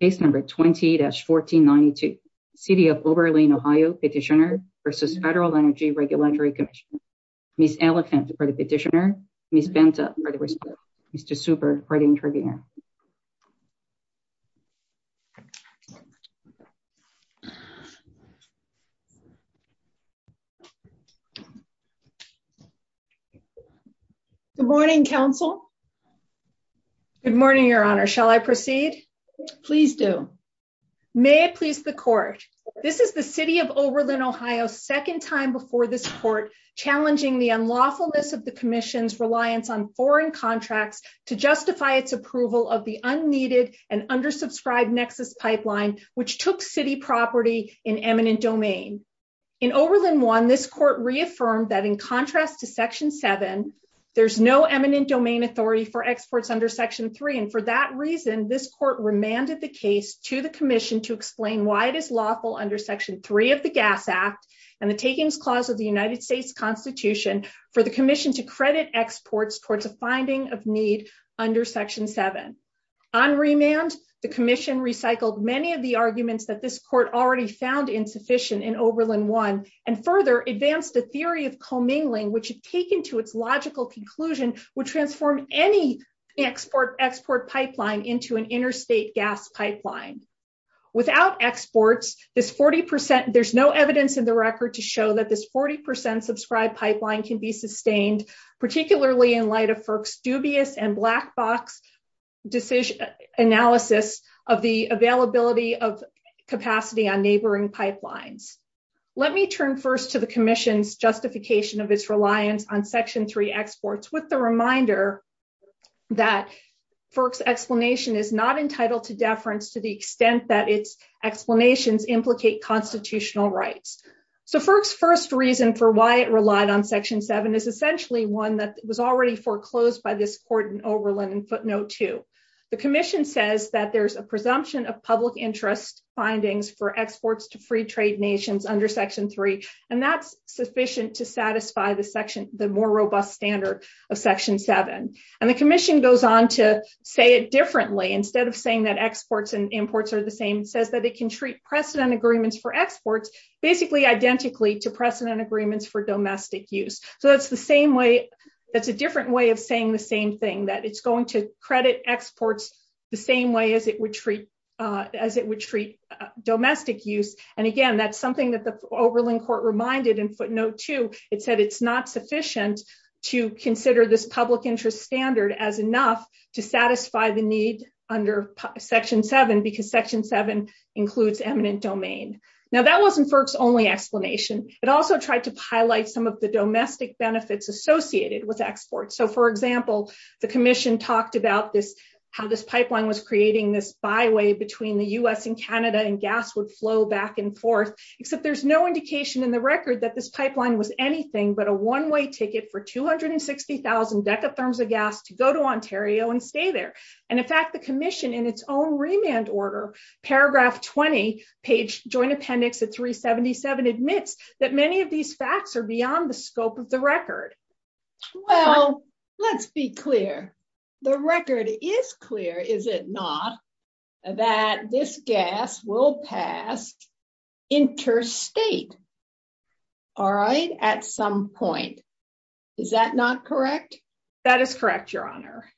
20-1492, City of Oberlin, Ohio Petitioner v. Federal Energy Regulatory Commission, Ms. Elephant for the petitioner, Ms. Benta for the respondent, Mr. Super for the interviewer. Good morning, Council. Good morning, Your Honor. Shall I proceed? Please do. May it please the Court. This is the City of Oberlin, Ohio's second time before this Court challenging the unlawfulness of the Commission's reliance on foreign contracts to justify its approval of the unneeded and undersubscribed Nexus Pipeline, which took city property in eminent domain. In Oberlin 1, this Court reaffirmed that in contrast to Section 7, there's no eminent domain authority for exports under Section 3, and for that reason, this Court remanded the case to the Commission to explain why it is lawful under Section 3 of the Gas Act and the Takings Clause of the United States Constitution for the Commission to credit exports towards a finding of need under Section 7. On remand, the Commission recycled many of the arguments that this Court already found insufficient in Oberlin 1, and further advanced the theory of commingling, which had taken to its logical conclusion would transform any export pipeline into an interstate gas pipeline. Without exports, there's no evidence in the record to show that this 40 percent subscribed pipeline can be sustained, particularly in light of FERC's dubious and black box analysis of the availability of capacity on neighboring pipelines. Let me turn first to the Commission's justification of its reliance on Section 3 exports, with the reminder that FERC's explanation is not entitled to deference to the extent that its explanations implicate constitutional rights. So FERC's first reason for why it relied on Section 7 is essentially one that was already foreclosed by this Court in Oberlin in footnote 2. The Commission says that there's a presumption of public interest findings for exports to free trade nations under Section 3, and that's sufficient to satisfy the more robust standard of Section 7. And the Commission goes on to say it differently. Instead of saying that exports and imports are the same, it says that it can treat precedent agreements for exports basically identically to precedent agreements for domestic use. So that's a different way of saying the same thing, that it's going to credit exports the same way as it would treat domestic use. And again, that's something that Oberlin Court reminded in footnote 2. It said it's not sufficient to consider this public interest standard as enough to satisfy the need under Section 7, because Section 7 includes eminent domain. Now that wasn't FERC's only explanation. It also tried to highlight some of the domestic benefits associated with exports. So for example, the Commission talked about how this pipeline was creating this byway between the U.S. and Canada, and gas would flow back and forth, except there's no indication in the record that this pipeline was anything but a one-way ticket for 260,000 decatherms of gas to go to Ontario and stay there. And in fact, the Commission in its own remand order, paragraph 20, page joint appendix at 377, admits that many of these facts are beyond the scope of the record. Well, let's be clear. The record is clear, is it not, that this gas will pass interstate, all right, at some point. Is that not correct? That is correct, Your Honor.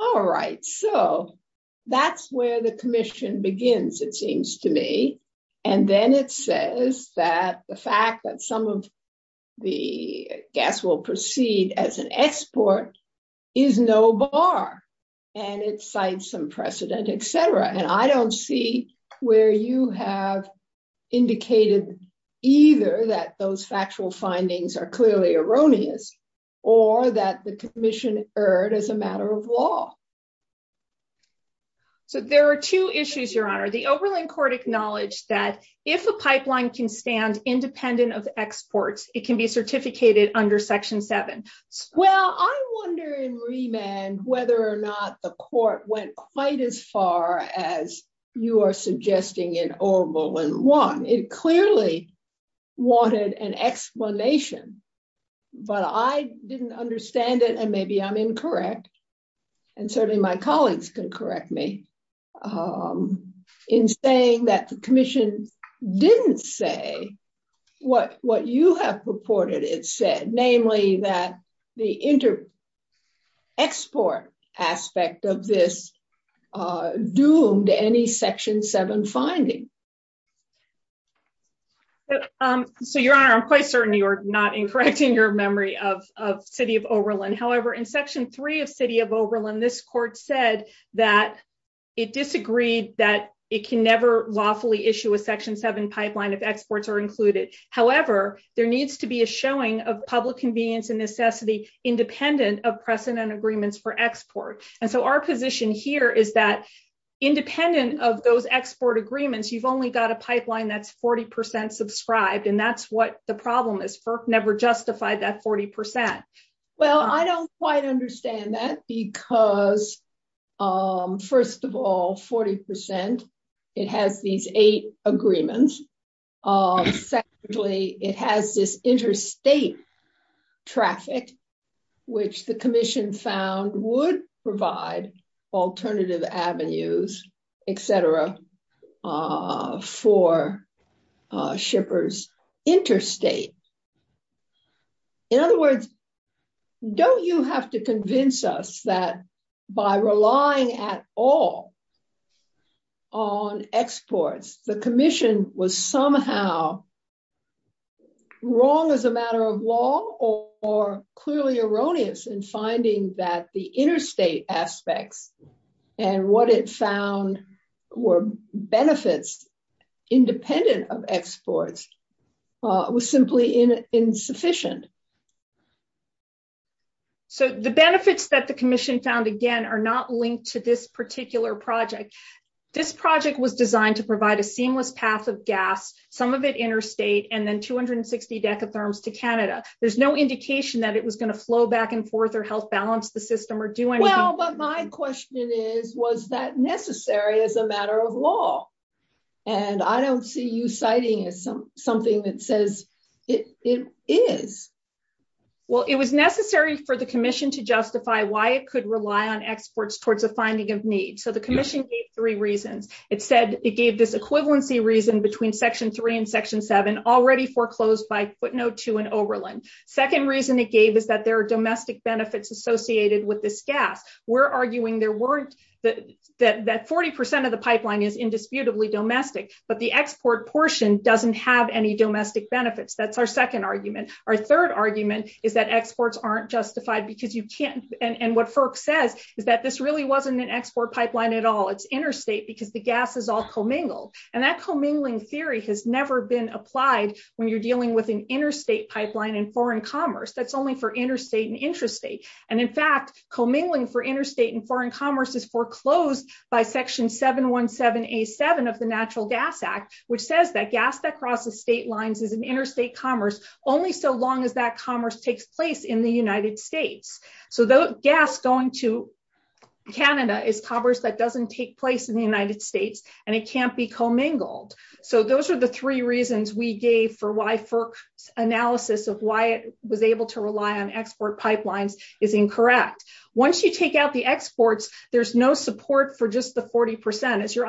All right. So that's where the Commission begins, it seems to me. And then it says that the fact that some of the gas will proceed as an export is no bar. And it cites some precedent, etc. And I indicated either that those factual findings are clearly erroneous, or that the Commission erred as a matter of law. So there are two issues, Your Honor. The Oberlin Court acknowledged that if a pipeline can stand independent of exports, it can be certificated under Section 7. Well, I wonder in remand whether or not the Court went quite as far as you are suggesting in Oberlin 1. It clearly wanted an explanation. But I didn't understand it, and maybe I'm incorrect. And certainly my colleagues can correct me in saying that the Commission didn't say what you have purported it said, namely that the inter-export aspect of this doomed any Section 7 finding. So, Your Honor, I'm quite certain you are not incorrecting your memory of City of Oberlin. However, in Section 3 of City of Oberlin, this Court said that it disagreed that it can never lawfully issue a Section 7 pipeline if exports are included. However, there needs to be a showing of public convenience and necessity independent of precedent agreements for export. And so our position here is that independent of those export agreements, you've only got a pipeline that's 40% subscribed. And that's what the problem is. FERC never justified that 40%. Well, I don't quite understand that because, first of all, 40%, it has these eight agreements. Secondly, it has this interstate traffic, which the Commission found would provide alternative avenues, etc., for shippers interstate. In other words, don't you have to convince us that by relying at all on exports, the Commission was somehow wrong as a matter of law or clearly erroneous in finding that the interstate aspects and what it found were benefits independent of exports was simply insufficient? So the benefits that the Commission found, again, are not linked to this particular project. This project was designed to provide a seamless path of gas, some of it interstate, and then 260 decatherms to Canada. There's no indication that it was going to flow back and forth or help balance the system or do anything. Well, but my question is, was that necessary as a Well, it was necessary for the Commission to justify why it could rely on exports towards a finding of need. So the Commission gave three reasons. It said it gave this equivalency reason between Section 3 and Section 7 already foreclosed by footnote 2 in Oberlin. Second reason it gave is that there are domestic benefits associated with this gas. We're arguing that 40% of the pipeline is indisputably domestic, but the export portion doesn't have any domestic benefits. That's our second argument. Our third argument is that exports aren't justified because you can't. And what FERC says is that this really wasn't an export pipeline at all. It's interstate because the gas is all commingled. And that commingling theory has never been applied when you're dealing with an interstate pipeline in foreign commerce. That's only for interstate and intrastate. And in fact, commingling for interstate and foreign commerce is foreclosed by Section 717A7 of the Natural Gas Act, which says that gas that crosses state lines is an interstate commerce only so long as that commerce takes place in the United States. So gas going to Canada is commerce that doesn't take place in the United States, and it can't be commingled. So those are the three reasons we gave for why FERC's analysis of why it was able to rely on export pipelines is incorrect. Once you take out the exports, there's no support for just the 40%. As your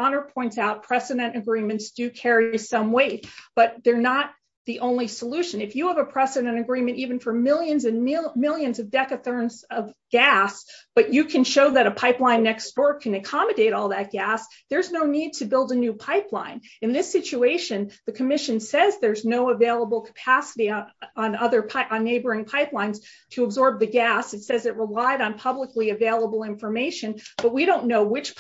agreements do carry some weight, but they're not the only solution. If you have a precedent agreement, even for millions and millions of decatherms of gas, but you can show that a pipeline next door can accommodate all that gas, there's no need to build a new pipeline. In this situation, the commission says there's no available capacity on neighboring pipelines to absorb the gas. It says it relied on publicly available information, but we don't know which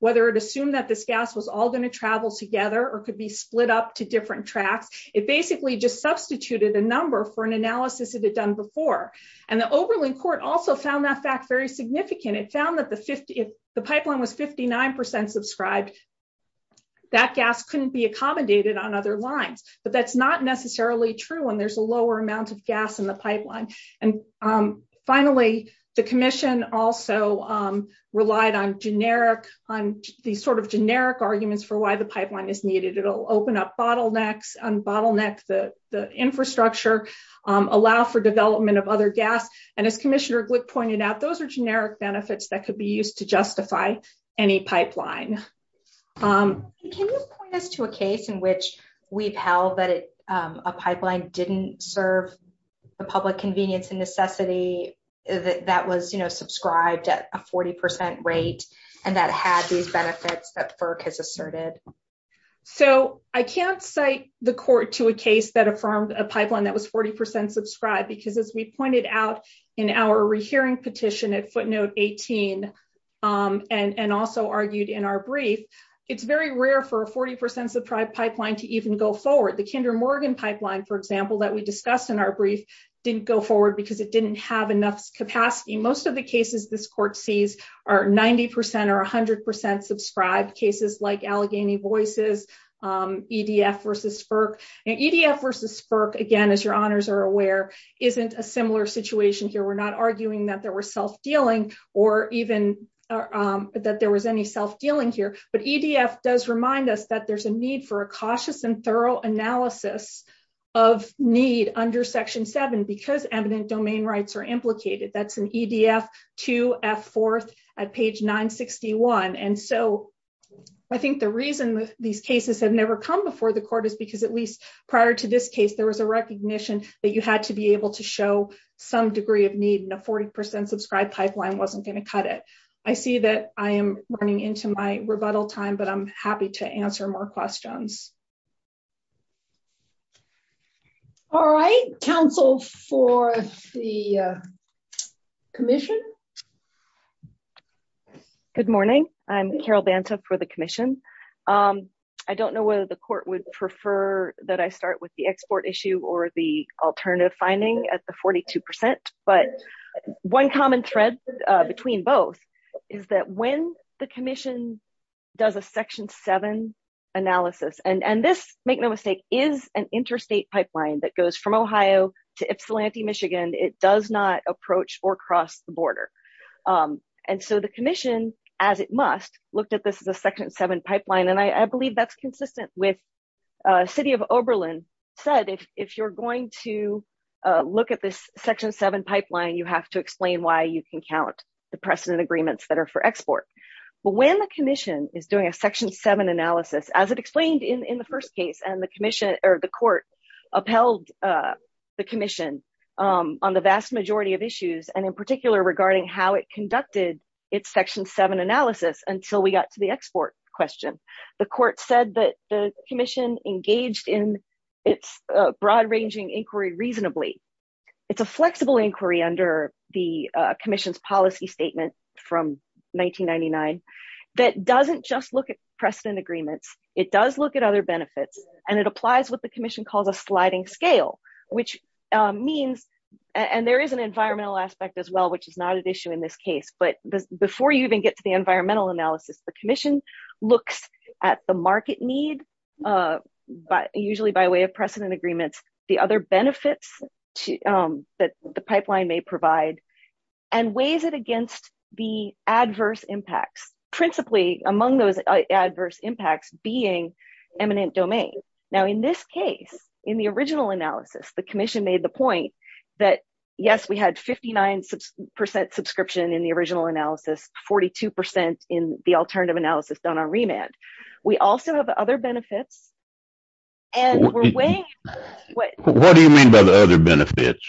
whether it assumed that this gas was all going to travel together or could be split up to different tracks. It basically just substituted a number for an analysis it had done before. And the Oberlin court also found that fact very significant. It found that if the pipeline was 59% subscribed, that gas couldn't be accommodated on other lines. But that's not necessarily true when there's a lower amount of gas in the pipeline. And finally, the commission also relied on generic arguments for why the pipeline is needed. It'll open up bottlenecks, unbottleneck the infrastructure, allow for development of other gas. And as Commissioner Glick pointed out, those are generic benefits that could be used to justify any pipeline. Can you point us to a case in which we've held that a pipeline didn't serve the public convenience necessity that was subscribed at a 40% rate and that had these benefits that FERC has asserted? So I can't cite the court to a case that affirmed a pipeline that was 40% subscribed, because as we pointed out in our rehearing petition at footnote 18, and also argued in our brief, it's very rare for a 40% subscribed pipeline to even go forward. The Kinder Morgan pipeline, for example, that we discussed in our brief, didn't go forward because it didn't have enough capacity. Most of the cases this court sees are 90% or 100% subscribed cases like Allegheny Voices, EDF versus FERC. And EDF versus FERC, again, as your honors are aware, isn't a similar situation here. We're not arguing that there was self-dealing or even that there was any self-dealing here. But EDF does remind us that there's a need for a cautious and thorough analysis of need under Section 7, because eminent domain rights are implicated. That's in EDF 2F4 at page 961. And so I think the reason these cases have never come before the court is because at least prior to this case, there was a recognition that you had to be able to show some degree of need, and a 40% subscribed pipeline wasn't going to cut it. I see that I am running into my rebuttal time, but I'm happy to answer more questions. All right, counsel for the commission. Good morning. I'm Carol Banta for the commission. I don't know whether the court would prefer that I start with the export issue or the alternative finding at the 42%, but one common thread between both is that when the commission does a Section 7 analysis, and this, make no mistake, is an interstate pipeline that goes from Ohio to Ypsilanti, Michigan. It does not approach or cross the border. And so the commission, as it must, looked at this as a Section 7 pipeline, and I believe that's consistent with City of Oberlin said, if you're going to look at this the precedent agreements that are for export. But when the commission is doing a Section 7 analysis, as it explained in the first case, and the commission or the court upheld the commission on the vast majority of issues, and in particular regarding how it conducted its Section 7 analysis until we got to the export question, the court said that the commission engaged in its broad inquiry under the commission's policy statement from 1999 that doesn't just look at precedent agreements, it does look at other benefits, and it applies what the commission calls a sliding scale, which means, and there is an environmental aspect as well, which is not an issue in this case, but before you even get to the environmental analysis, the commission looks at the market need, but usually by way of precedent agreements, the other benefits that the pipeline may provide, and weighs it against the adverse impacts, principally among those adverse impacts being eminent domain. Now in this case, in the original analysis, the commission made the point that yes, we had 59% subscription in the original analysis, 42% in the alternative analysis done on remand. We also have other benefits, and we're weighing... What do you mean by the other benefits?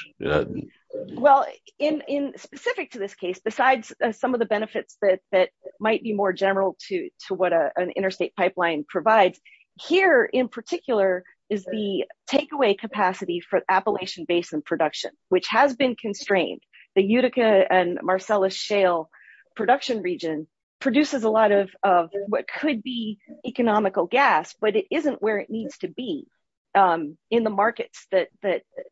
Well, in specific to this case, besides some of the benefits that might be more general to what an interstate pipeline provides, here in particular is the takeaway capacity for Appalachian Basin production, which has been constrained. The Utica and Marcellus Shale production region produces a could be economical gas, but it isn't where it needs to be in the markets that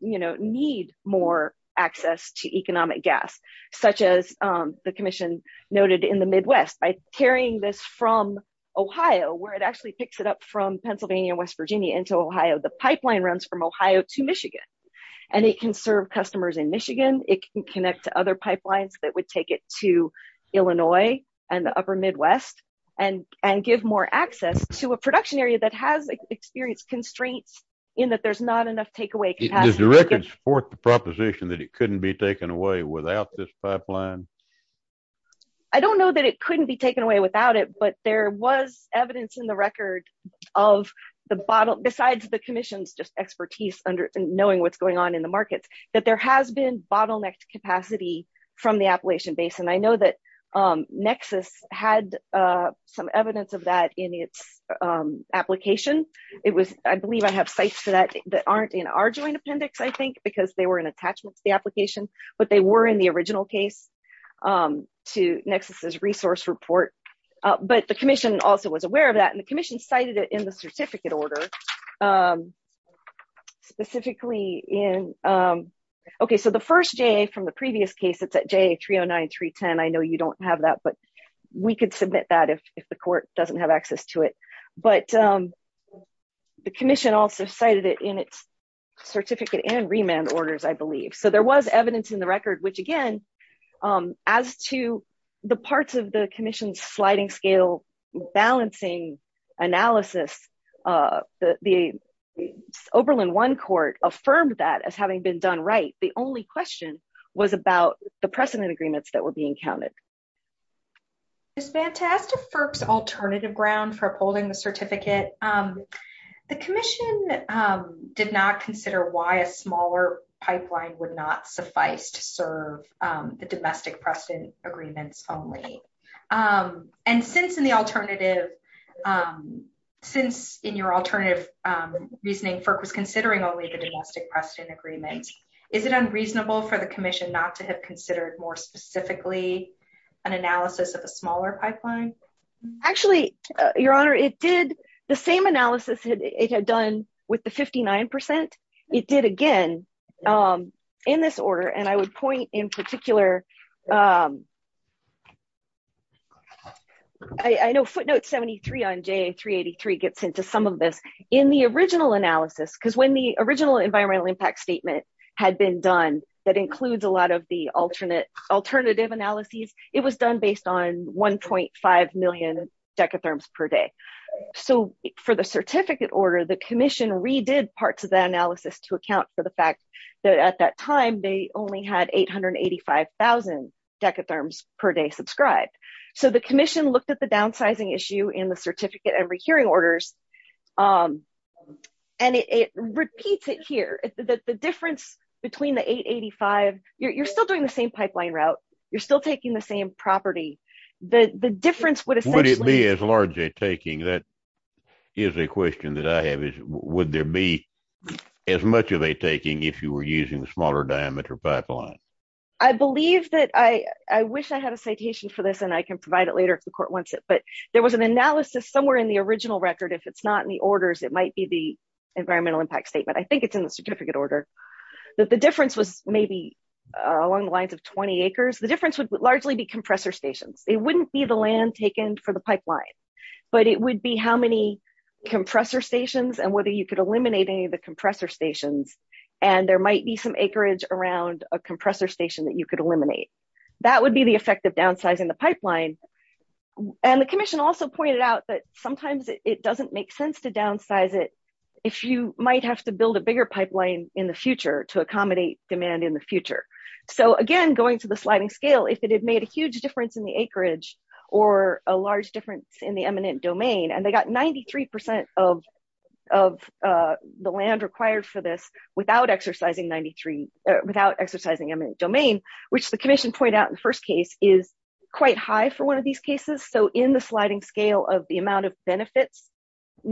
need more access to economic gas, such as the commission noted in the Midwest. By carrying this from Ohio, where it actually picks it up from Pennsylvania, West Virginia into Ohio, the pipeline runs from Ohio to Michigan, and it can serve customers in Michigan. It can connect to pipelines that would take it to Illinois and the upper Midwest, and give more access to a production area that has experienced constraints in that there's not enough takeaway capacity. Does the record support the proposition that it couldn't be taken away without this pipeline? I don't know that it couldn't be taken away without it, but there was evidence in the record of the bottle, besides the commission's just expertise under knowing what's going on in the from the Appalachian Basin. I know that Nexus had some evidence of that in its application. I believe I have sites for that that aren't in our joint appendix, I think, because they were an attachment to the application, but they were in the original case to Nexus's resource report, but the commission also was aware of that, and the commission cited it in the certificate order, specifically in... Okay, so the first JA from the previous case, it's at JA 309-310. I know you don't have that, but we could submit that if the court doesn't have access to it, but the commission also cited it in its certificate and remand orders, I believe. So there was evidence in the record, which again, as to the parts of the commission's balancing analysis, the Oberlin One Court affirmed that as having been done right. The only question was about the precedent agreements that were being counted. It's fantastic for its alternative ground for upholding the certificate. The commission did not consider why a smaller pipeline would not suffice to serve the domestic precedent agreements only. And since in your alternative reasoning, FERC was considering only the domestic precedent agreements, is it unreasonable for the commission not to have considered more specifically an analysis of a smaller pipeline? Actually, Your Honor, the same analysis it had done with the 59%, it did again in this order. And I would point in particular... I know footnote 73 on JA 383 gets into some of this. In the original analysis, because when the original environmental impact statement had been done, that includes a lot of the alternative analyses, it was done based on 1.5 million decatherms per day. So for the commission, redid parts of that analysis to account for the fact that at that time, they only had 885,000 decatherms per day subscribed. So the commission looked at the downsizing issue in the certificate and re-hearing orders. And it repeats it here. The difference between the 885, you're still doing the same pipeline route. You're still taking the same property. The difference would be as large a taking that is a question that I have is, would there be as much of a taking if you were using a smaller diameter pipeline? I believe that I wish I had a citation for this, and I can provide it later if the court wants it. But there was an analysis somewhere in the original record. If it's not in the orders, it might be the environmental impact statement. I think it's in the certificate order. The difference was maybe along the lines of 20 acres. The land taken for the pipeline, but it would be how many compressor stations and whether you could eliminate any of the compressor stations. And there might be some acreage around a compressor station that you could eliminate. That would be the effect of downsizing the pipeline. And the commission also pointed out that sometimes it doesn't make sense to downsize it if you might have to build a bigger pipeline in the future to accommodate demand in the future. So again, going to the sliding scale, if it had made a huge difference in the acreage or a large difference in the eminent domain, and they got 93% of the land required for this without exercising eminent domain, which the commission pointed out in the first case is quite high for one of these cases. So in the sliding scale of the amount of benefits,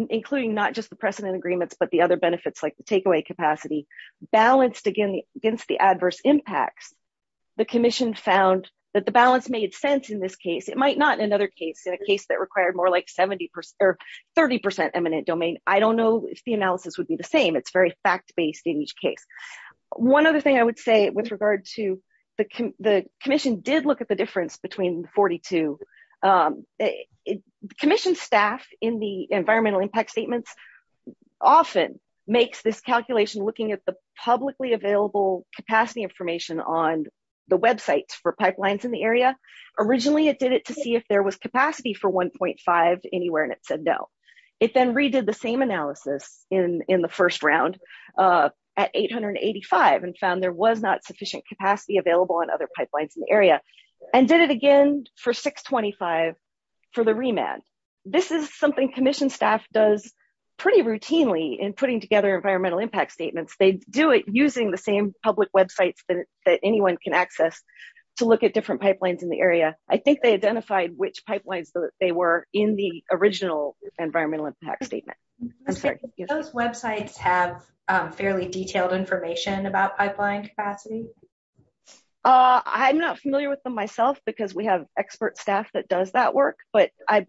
including not just the precedent agreements, but the other benefits like the takeaway capacity, balanced against the adverse impacts, the commission found that the balance made sense in this case. It might not in another case, in a case that required more like 30% eminent domain. I don't know if the analysis would be the same. It's very fact-based in each case. One other thing I would say with regard to the commission did look at the difference between 42. Commission staff in the environmental impact statements often makes this calculation looking at the publicly available capacity information on the website for pipelines in the area. Originally it did it to see if there was capacity for 1.5 anywhere and it said no. It then redid the same analysis in the first round at 885 and found there was not sufficient capacity available on other pipelines in the area and did it again for 625 for the remand. This is something commission staff does pretty routinely in putting together environmental impact statements. They do it using the same public websites that anyone can access to look at different pipelines in the area. I think they identified which pipelines they were in the original environmental impact statement. Those websites have fairly detailed information about pipeline capacity? I'm not familiar with them myself because we have expert staff that does that work. I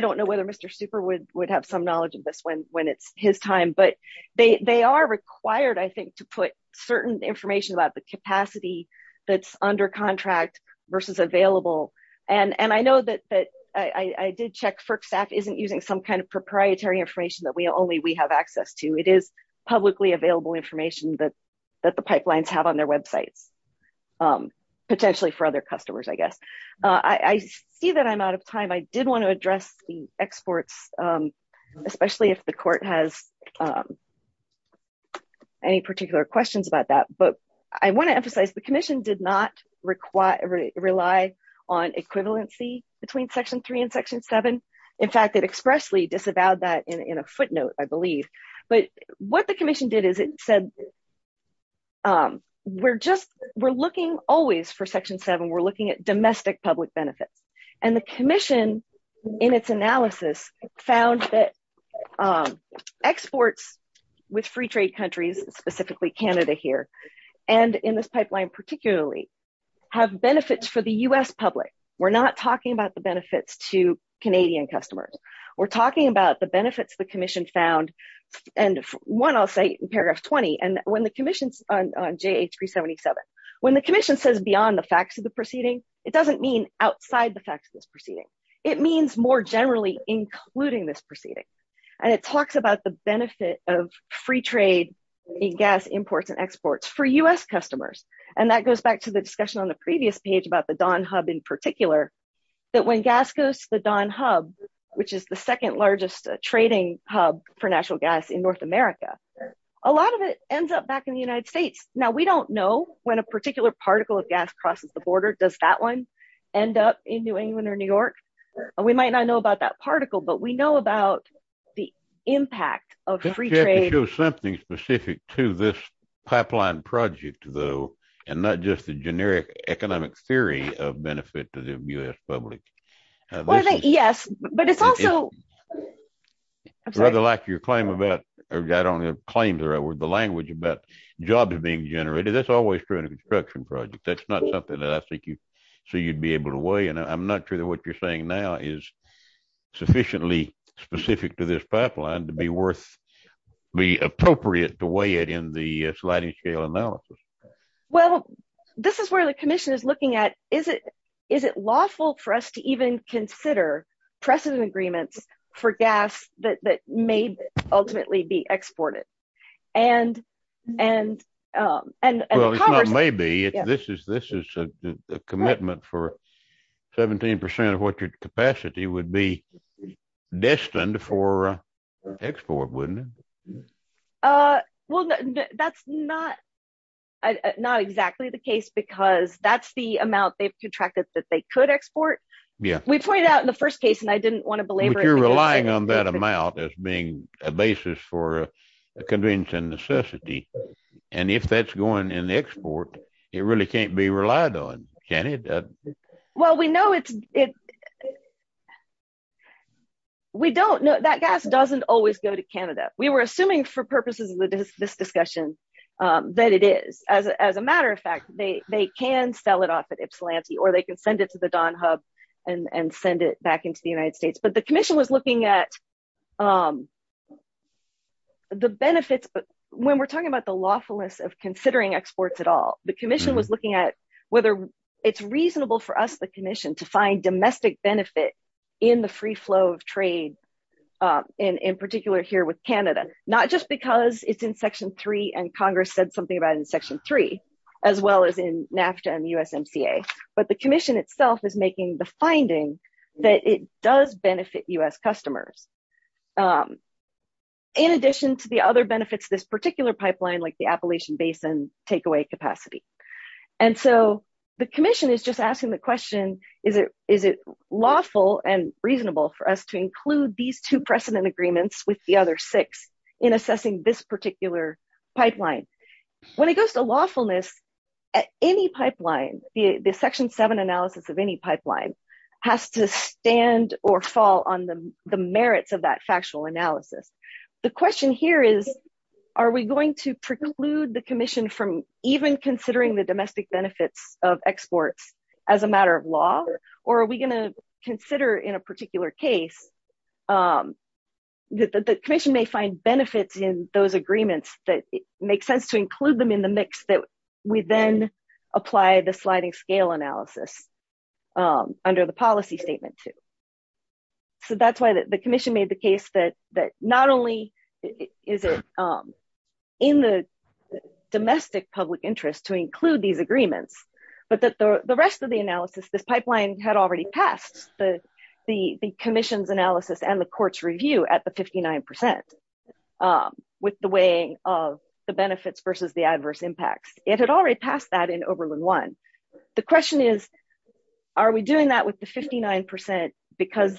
don't know whether Mr. Super would have some knowledge of this when it's his time. They are required to put certain information about the capacity that's under contract versus available. I did check FERC staff isn't using some kind of proprietary information that only we have access to. It is publicly available information that the pipelines have on their websites. I see that I'm out of time. I did want to address the exports, especially if the court has any particular questions about that. I want to emphasize the commission did not rely on equivalency between section 3 and section 7. In fact, it expressly disavowed that in a foot but what the commission did is it said we're looking always for section 7. We're looking at domestic public benefits. The commission in its analysis found that exports with free trade countries, specifically Canada here and in this pipeline particularly, have benefits for the U.S. public. We're not talking about the benefits to Canadian customers. We're talking about the one I'll say in paragraph 20. When the commission says beyond the facts of the proceeding, it doesn't mean outside the facts of this proceeding. It means more generally including this proceeding. It talks about the benefit of free trade in gas imports and exports for U.S. customers. That goes back to the discussion on the previous page about the Don hub in particular that when gas goes to the Don hub, which is the second largest trading hub for natural gas in North America, a lot of it ends up back in the United States. Now we don't know when a particular particle of gas crosses the border. Does that one end up in New England or New York? We might not know about that particle but we know about the impact of free trade. You have to show something specific to this pipeline project though and not just the generic economic theory of benefit to U.S. public. Yes but it's also rather like your claim about or I don't have claims or the language about jobs being generated. That's always true in a construction project. That's not something that I think you so you'd be able to weigh and I'm not sure that what you're saying now is sufficiently specific to this pipeline to be worth the appropriate to weigh it in the sliding scale analysis. Well this is where the commission is looking at is it lawful for us to even consider precedent agreements for gas that may ultimately be exported. This is a commitment for 17 percent of what your capacity would be not exactly the case because that's the amount they've contracted that they could export. Yeah we pointed out in the first case and I didn't want to belabor it. You're relying on that amount as being a basis for a convenience and necessity and if that's going in the export it really can't be relied on can it? Well we know it's we don't know that gas doesn't always go to Canada. We were assuming for purposes of this discussion that it is. As a matter of fact they can sell it off at Ypsilanti or they can send it to the Donhub and send it back into the United States but the commission was looking at the benefits but when we're talking about the lawfulness of considering exports at all the commission was looking at whether it's reasonable for us the commission to find domestic benefit in the free flow of trade in particular here with Canada. Not just because it's in section three and Congress said something about in section three as well as in NAFTA and USMCA but the commission itself is making the finding that it does benefit US customers in addition to the other benefits this particular pipeline like the Appalachian Basin takeaway capacity and so the commission is just asking the question is it is it lawful and reasonable for us to include these two precedent agreements with the other six in assessing this particular pipeline? When it goes to lawfulness at any pipeline the section seven analysis of any pipeline has to stand or fall on the the merits of that factual analysis. The question here is are we going to preclude the commission from even considering the domestic benefits of exports as a matter of law or are we going to consider in a particular case that the commission may find benefits in those agreements that make sense to include them in the mix that we then apply the sliding scale analysis under the policy statement too. So that's why the commission made the case that not only is it in the domestic public interest to include these agreements but that the rest of the analysis this pipeline had already passed the commission's analysis and the court's review at the 59 percent with the weighing of the benefits versus the adverse impacts. It had already passed that in Oberlin one. The question is are we doing that with the 42 percent because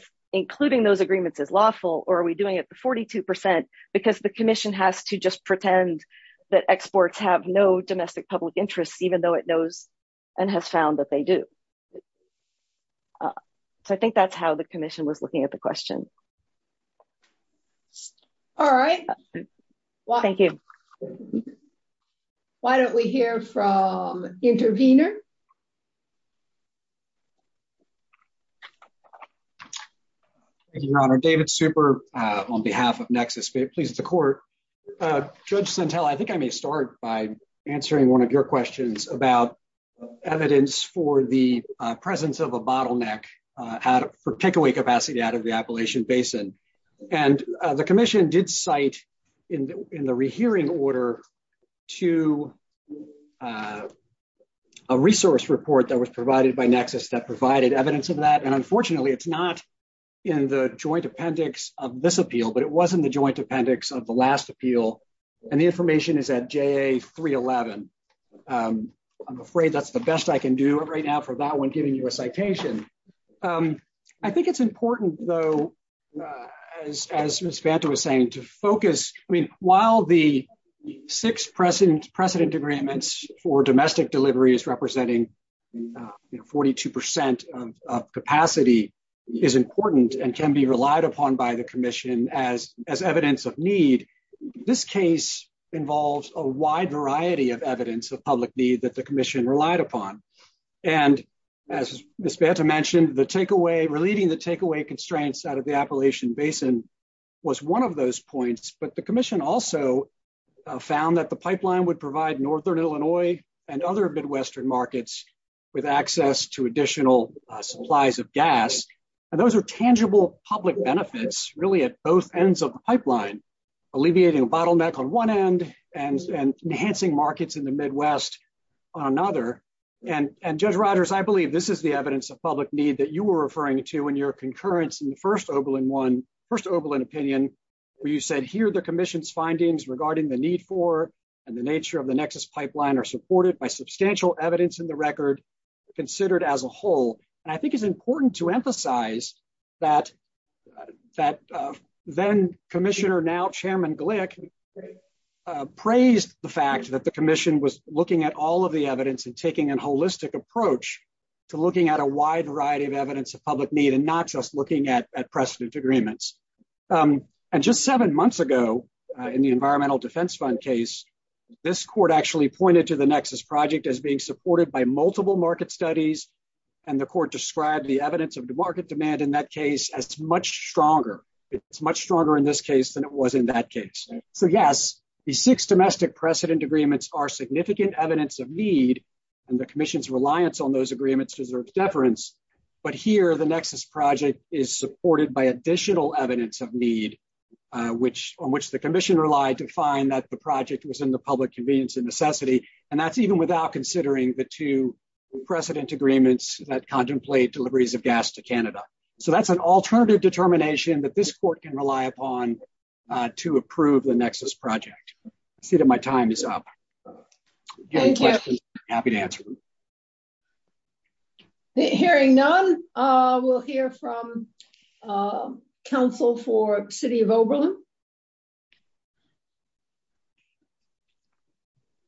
the commission has to just pretend that exports have no domestic public interests even though it knows and has found that they do. So I think that's how the commission was looking at the question. All right. Thank you. Why don't we hear from intervener? Thank you your honor. David super on behalf of nexus please the court. Judge Centella I think I may start by answering one of your questions about evidence for the presence of a bottleneck for takeaway capacity out of the Appalachian Basin. And the commission did cite in the rehearing order to a resource report that was provided by nexus that provided evidence of that and unfortunately it's not in the joint appendix of this appeal but it was in the joint appendix of the last appeal and the information is at JA 311. I'm afraid that's the best I can do right now for that one you a citation. I think it's important though as Ms. Banta was saying to focus. I mean while the six precedent agreements for domestic delivery is representing 42 percent of capacity is important and can be relied upon by the commission as evidence of need. This case involves a wide variety of evidence of public need that the commission relied upon. And as Ms. Banta mentioned the takeaway relieving the takeaway constraints out of the Appalachian Basin was one of those points but the commission also found that the pipeline would provide northern Illinois and other midwestern markets with access to additional supplies of gas and those are tangible public benefits really at both ends of the pipeline alleviating a bottleneck on one end and enhancing markets in the midwest on another. And Judge Rogers I believe this is the evidence of public need that you were referring to in your concurrence in the first Oberlin opinion where you said here the commission's findings regarding the need for and the nature of the nexus pipeline are supported by substantial evidence in the record considered as a whole. I think it's important to emphasize that then commissioner now chairman Glick praised the fact that the commission was looking at all of the evidence and taking a holistic approach to looking at a wide variety of evidence of public need and not just looking at precedent agreements. And just seven months ago in the environmental defense fund case this court actually pointed to the nexus project as being supported by multiple market studies and the court described the evidence of the market demand in that case as much stronger it's much So yes the six domestic precedent agreements are significant evidence of need and the commission's reliance on those agreements deserves deference but here the nexus project is supported by additional evidence of need which on which the commission relied to find that the project was in the public convenience and necessity and that's even without considering the two precedent agreements that contemplate deliveries of gas to Canada. So that's an alternative determination that this court can rely upon to approve the nexus project. I see that my time is up. Happy to answer. Hearing none we'll hear from council for city of Oberlin.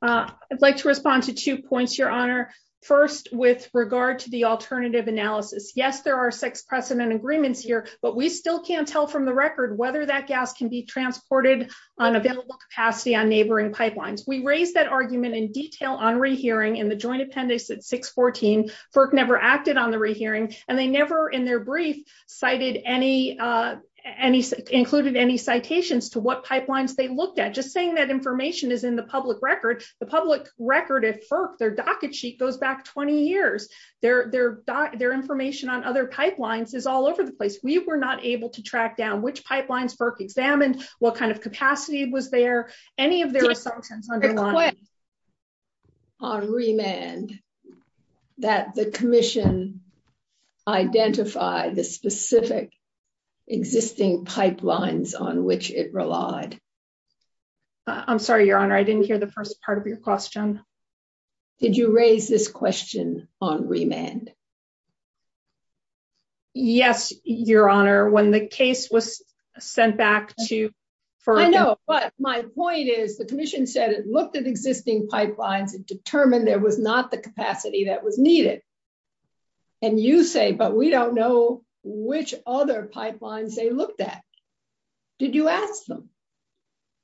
I'd like to respond to two points your honor. First with regard to the alternative analysis. Yes there are six precedent agreements here but we still can't tell from the record whether that gas can be transported on available capacity on neighboring pipelines. We raised that argument in detail on rehearing in the joint appendix at 614. FERC never acted on the rehearing and they never in their brief cited any uh any included any citations to what pipelines they looked at. Just saying that information is in the public record. The public record at FERC their docket sheet goes back 20 years. Their their their information on other pipelines is all over the place. We were not able to track down which pipelines FERC examined, what kind of capacity was there, any of their assumptions. On remand that the commission identified the specific existing pipelines on which it relied. I'm sorry your honor I didn't hear the first part of your question. Did you raise this question on remand? Yes your honor when the case was sent back to FERC. I know but my point is the commission said it looked at existing pipelines and determined there was not the capacity that was needed and you say but we don't know which other pipelines they looked at. Did you ask them?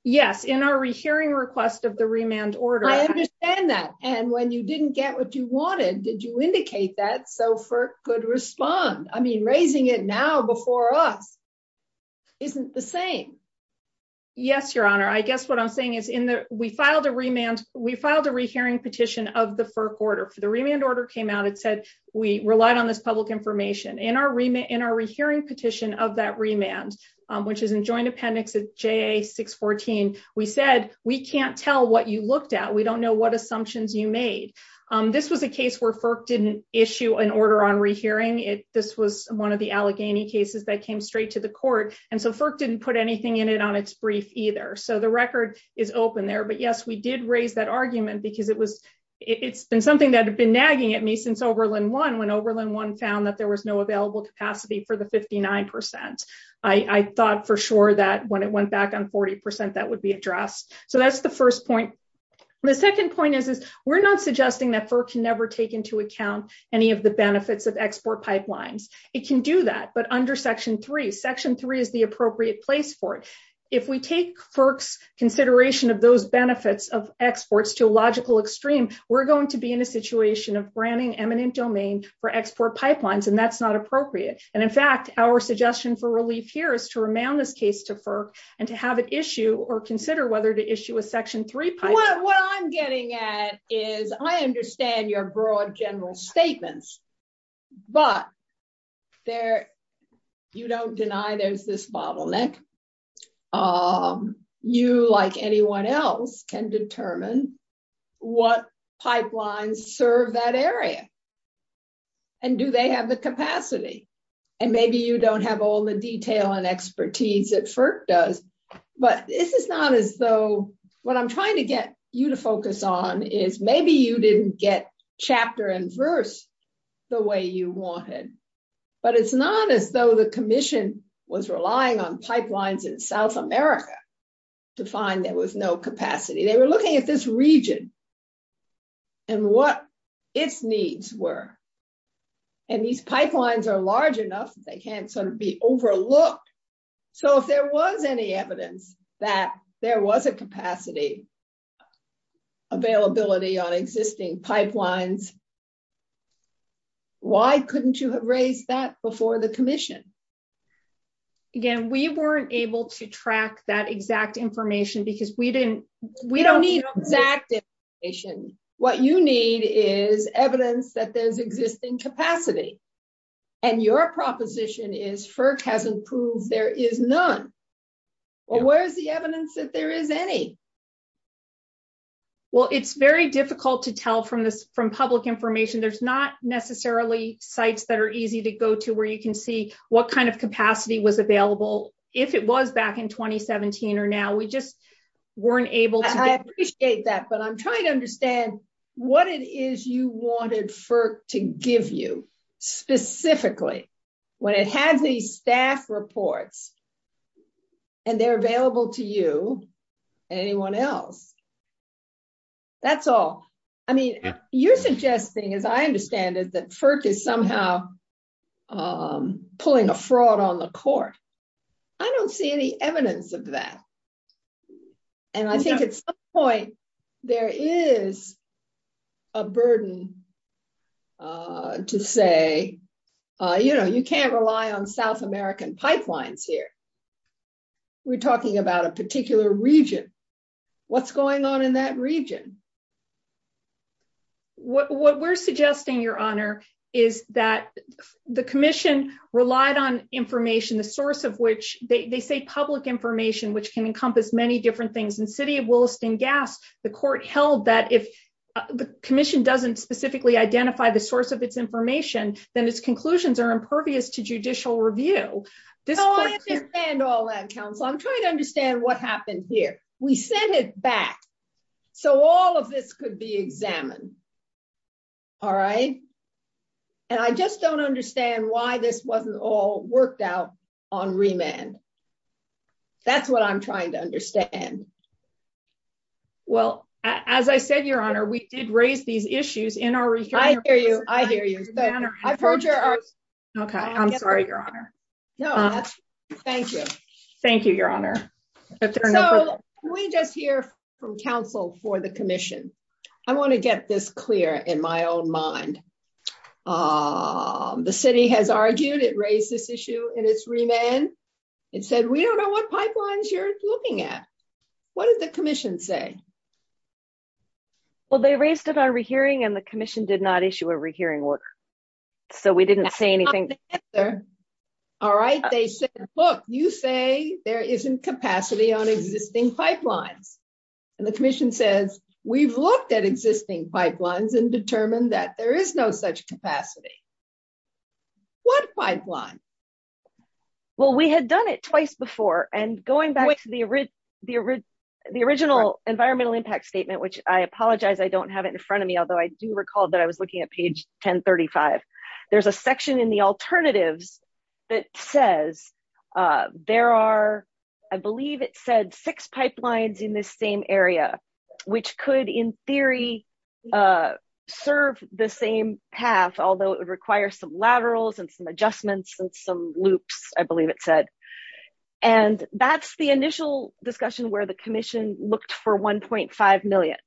Yes in our rehearing request of the remand order. I understand that and when you didn't get what you wanted did you indicate that so FERC could respond? I mean raising it now before us isn't the same. Yes your honor I guess what I'm saying is in the we filed a remand we filed a rehearing petition of the FERC order for the remand order came out it said we relied on this public information. In our remand in our rehearing petition of that remand which is in joint appendix at JA 614 we said we can't tell what you looked at we don't know what assumptions you made. This was a case where FERC didn't issue an order on rehearing it this was one of the Allegheny cases that came straight to the court and so FERC didn't put anything in it on its brief either. So the record is open there but yes we did raise that argument because it was it's been something that had been nagging at me since Oberlin one when Oberlin one found that there was no available capacity for the 59%. I thought for sure that when it went back on 40% that would be addressed. So that's the first point. The second point is we're not suggesting that FERC can never take into account any of the benefits of export pipelines. It can do that but under section three section three is the appropriate place for it. If we take FERC's consideration of those benefits of exports to a logical extreme we're going to be in a situation of branding eminent domain for export pipelines and that's not appropriate and in fact our suggestion for relief here is to remand this case to FERC and to have it issue or consider whether to issue a section three pipeline. What I'm getting at is I understand your broad general statements but there you don't deny there's this bottleneck. You like anyone else can determine what pipelines serve that area and do they have the capacity and maybe you don't have all the detail and expertise that FERC does but this is not as though what I'm trying to get you to focus on is maybe you didn't get chapter and verse the way you wanted but it's not as though the commission was relying on pipelines in South America to find there was no capacity. They were looking at this region and what its needs were and these pipelines are large enough they can't be overlooked. So if there was any evidence that there was a capacity availability on existing pipelines why couldn't you have raised that before the commission? Again we weren't able to track that exact information because we didn't we don't need exact information. What you need is evidence that there's existing capacity and your proposition is FERC hasn't proved there is none. Well where is the evidence that there is any? Well it's very difficult to tell from this from public information. There's not necessarily sites that are easy to go to where you can see what kind of capacity was available if it was back in 2017 or now we just weren't able to. I appreciate that but I'm trying to understand what it is you wanted FERC to give you specifically when it has these staff reports and they're available to you and anyone else. That's all. I mean you're suggesting as I understand it that FERC is somehow pulling a fraud on the court. I don't see any evidence of that and I think at some point there is a burden to say you know you can't rely on South American pipelines here. We're talking about a particular region. What's going on in that region? What we're suggesting your honor is that the commission relied on information the source of they say public information which can encompass many different things. In the city of Williston gas the court held that if the commission doesn't specifically identify the source of its information then its conclusions are impervious to judicial review. I understand all that counsel. I'm trying to understand what happened here. We sent it back so all of this could be examined. All right and I just don't understand why this wasn't all worked out on remand. That's what I'm trying to understand. Well as I said your honor we did raise these issues in our. I hear you. I hear you. I've heard your. Okay I'm sorry your honor. No thank you. Thank you your honor. So we just hear from counsel for the commission. I want to get this clear in my own mind. The city has argued it raised this issue in its remand. It said we don't know what pipelines you're looking at. What did the commission say? Well they raised it on rehearing and the commission did not issue a rehearing order so we didn't say anything. All right they said look you say there isn't capacity on existing pipelines and the commission says we've looked at existing pipelines and determined that there is no such capacity. What pipeline? Well we had done it twice before and going back to the original environmental impact statement which I apologize I don't have it in front of me although I do recall that I was looking at page 1035. There's a section in the alternatives that says there are I believe it said six pipelines in this same area which could in theory serve the same path although it would require some laterals and some adjustments and some loops I believe it said. And that's the initial discussion where the commission looked for 1.5 million.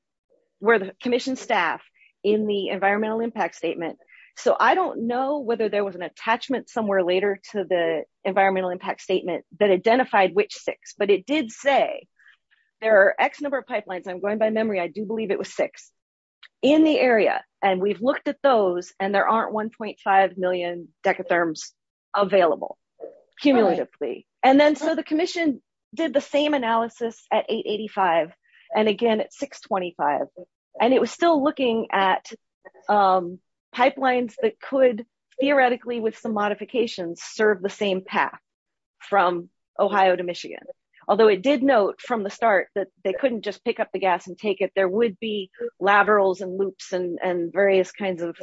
Where the commission staff in the environmental impact statement. So I don't know whether there was an attachment somewhere later to the environmental impact statement that identified which six but it did say there are x number of pipelines I'm going by memory I do believe it was six in the area and we've looked at those and there aren't 1.5 million decatherms available cumulatively. And then so the commission did the same analysis at 885 and again at 625. And it was still looking at pipelines that could theoretically with some modifications serve the same path from Ohio to Michigan. Although it did note from the start that they couldn't just pick up the gas and take it there would be laterals and loops and various kinds of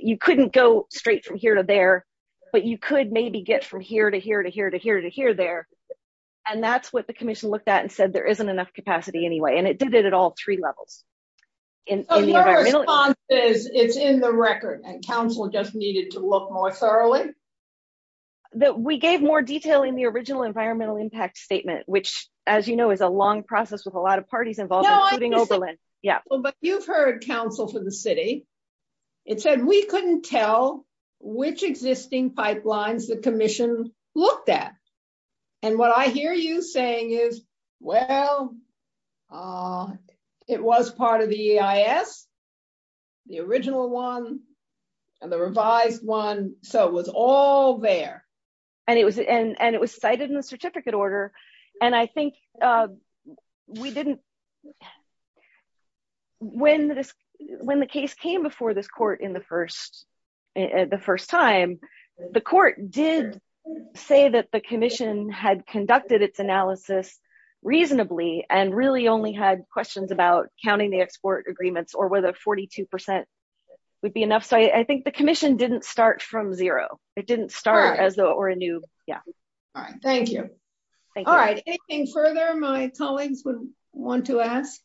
you couldn't go straight from here to there but you could maybe get from here to here to here to here to here there. And that's what the commission looked at and said there isn't enough capacity anyway and it did it at all three levels. So your response is it's in the record and council just needed to look more thoroughly? That we gave more detail in the original environmental impact statement which as you know is a long process with a lot of parties involved including Oberlin. Yeah well but you've heard council for the city it said we couldn't tell which existing pipelines the commission looked at. And what I hear you saying is well uh it was part of the EIS the original one and the revised one so it was all there. And it was and and it was cited in the certificate order and I think uh we didn't when this when the case came before this court in the first the first time the court did say that the commission had conducted its analysis reasonably and really only had questions about counting the export agreements or whether 42% would be enough. So I think the commission didn't start from zero it didn't start as though or a new yeah. All right thank you. All right anything further my colleagues would want to ask?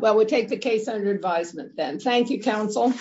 Well we'll take the case under advisement then. Thank you council.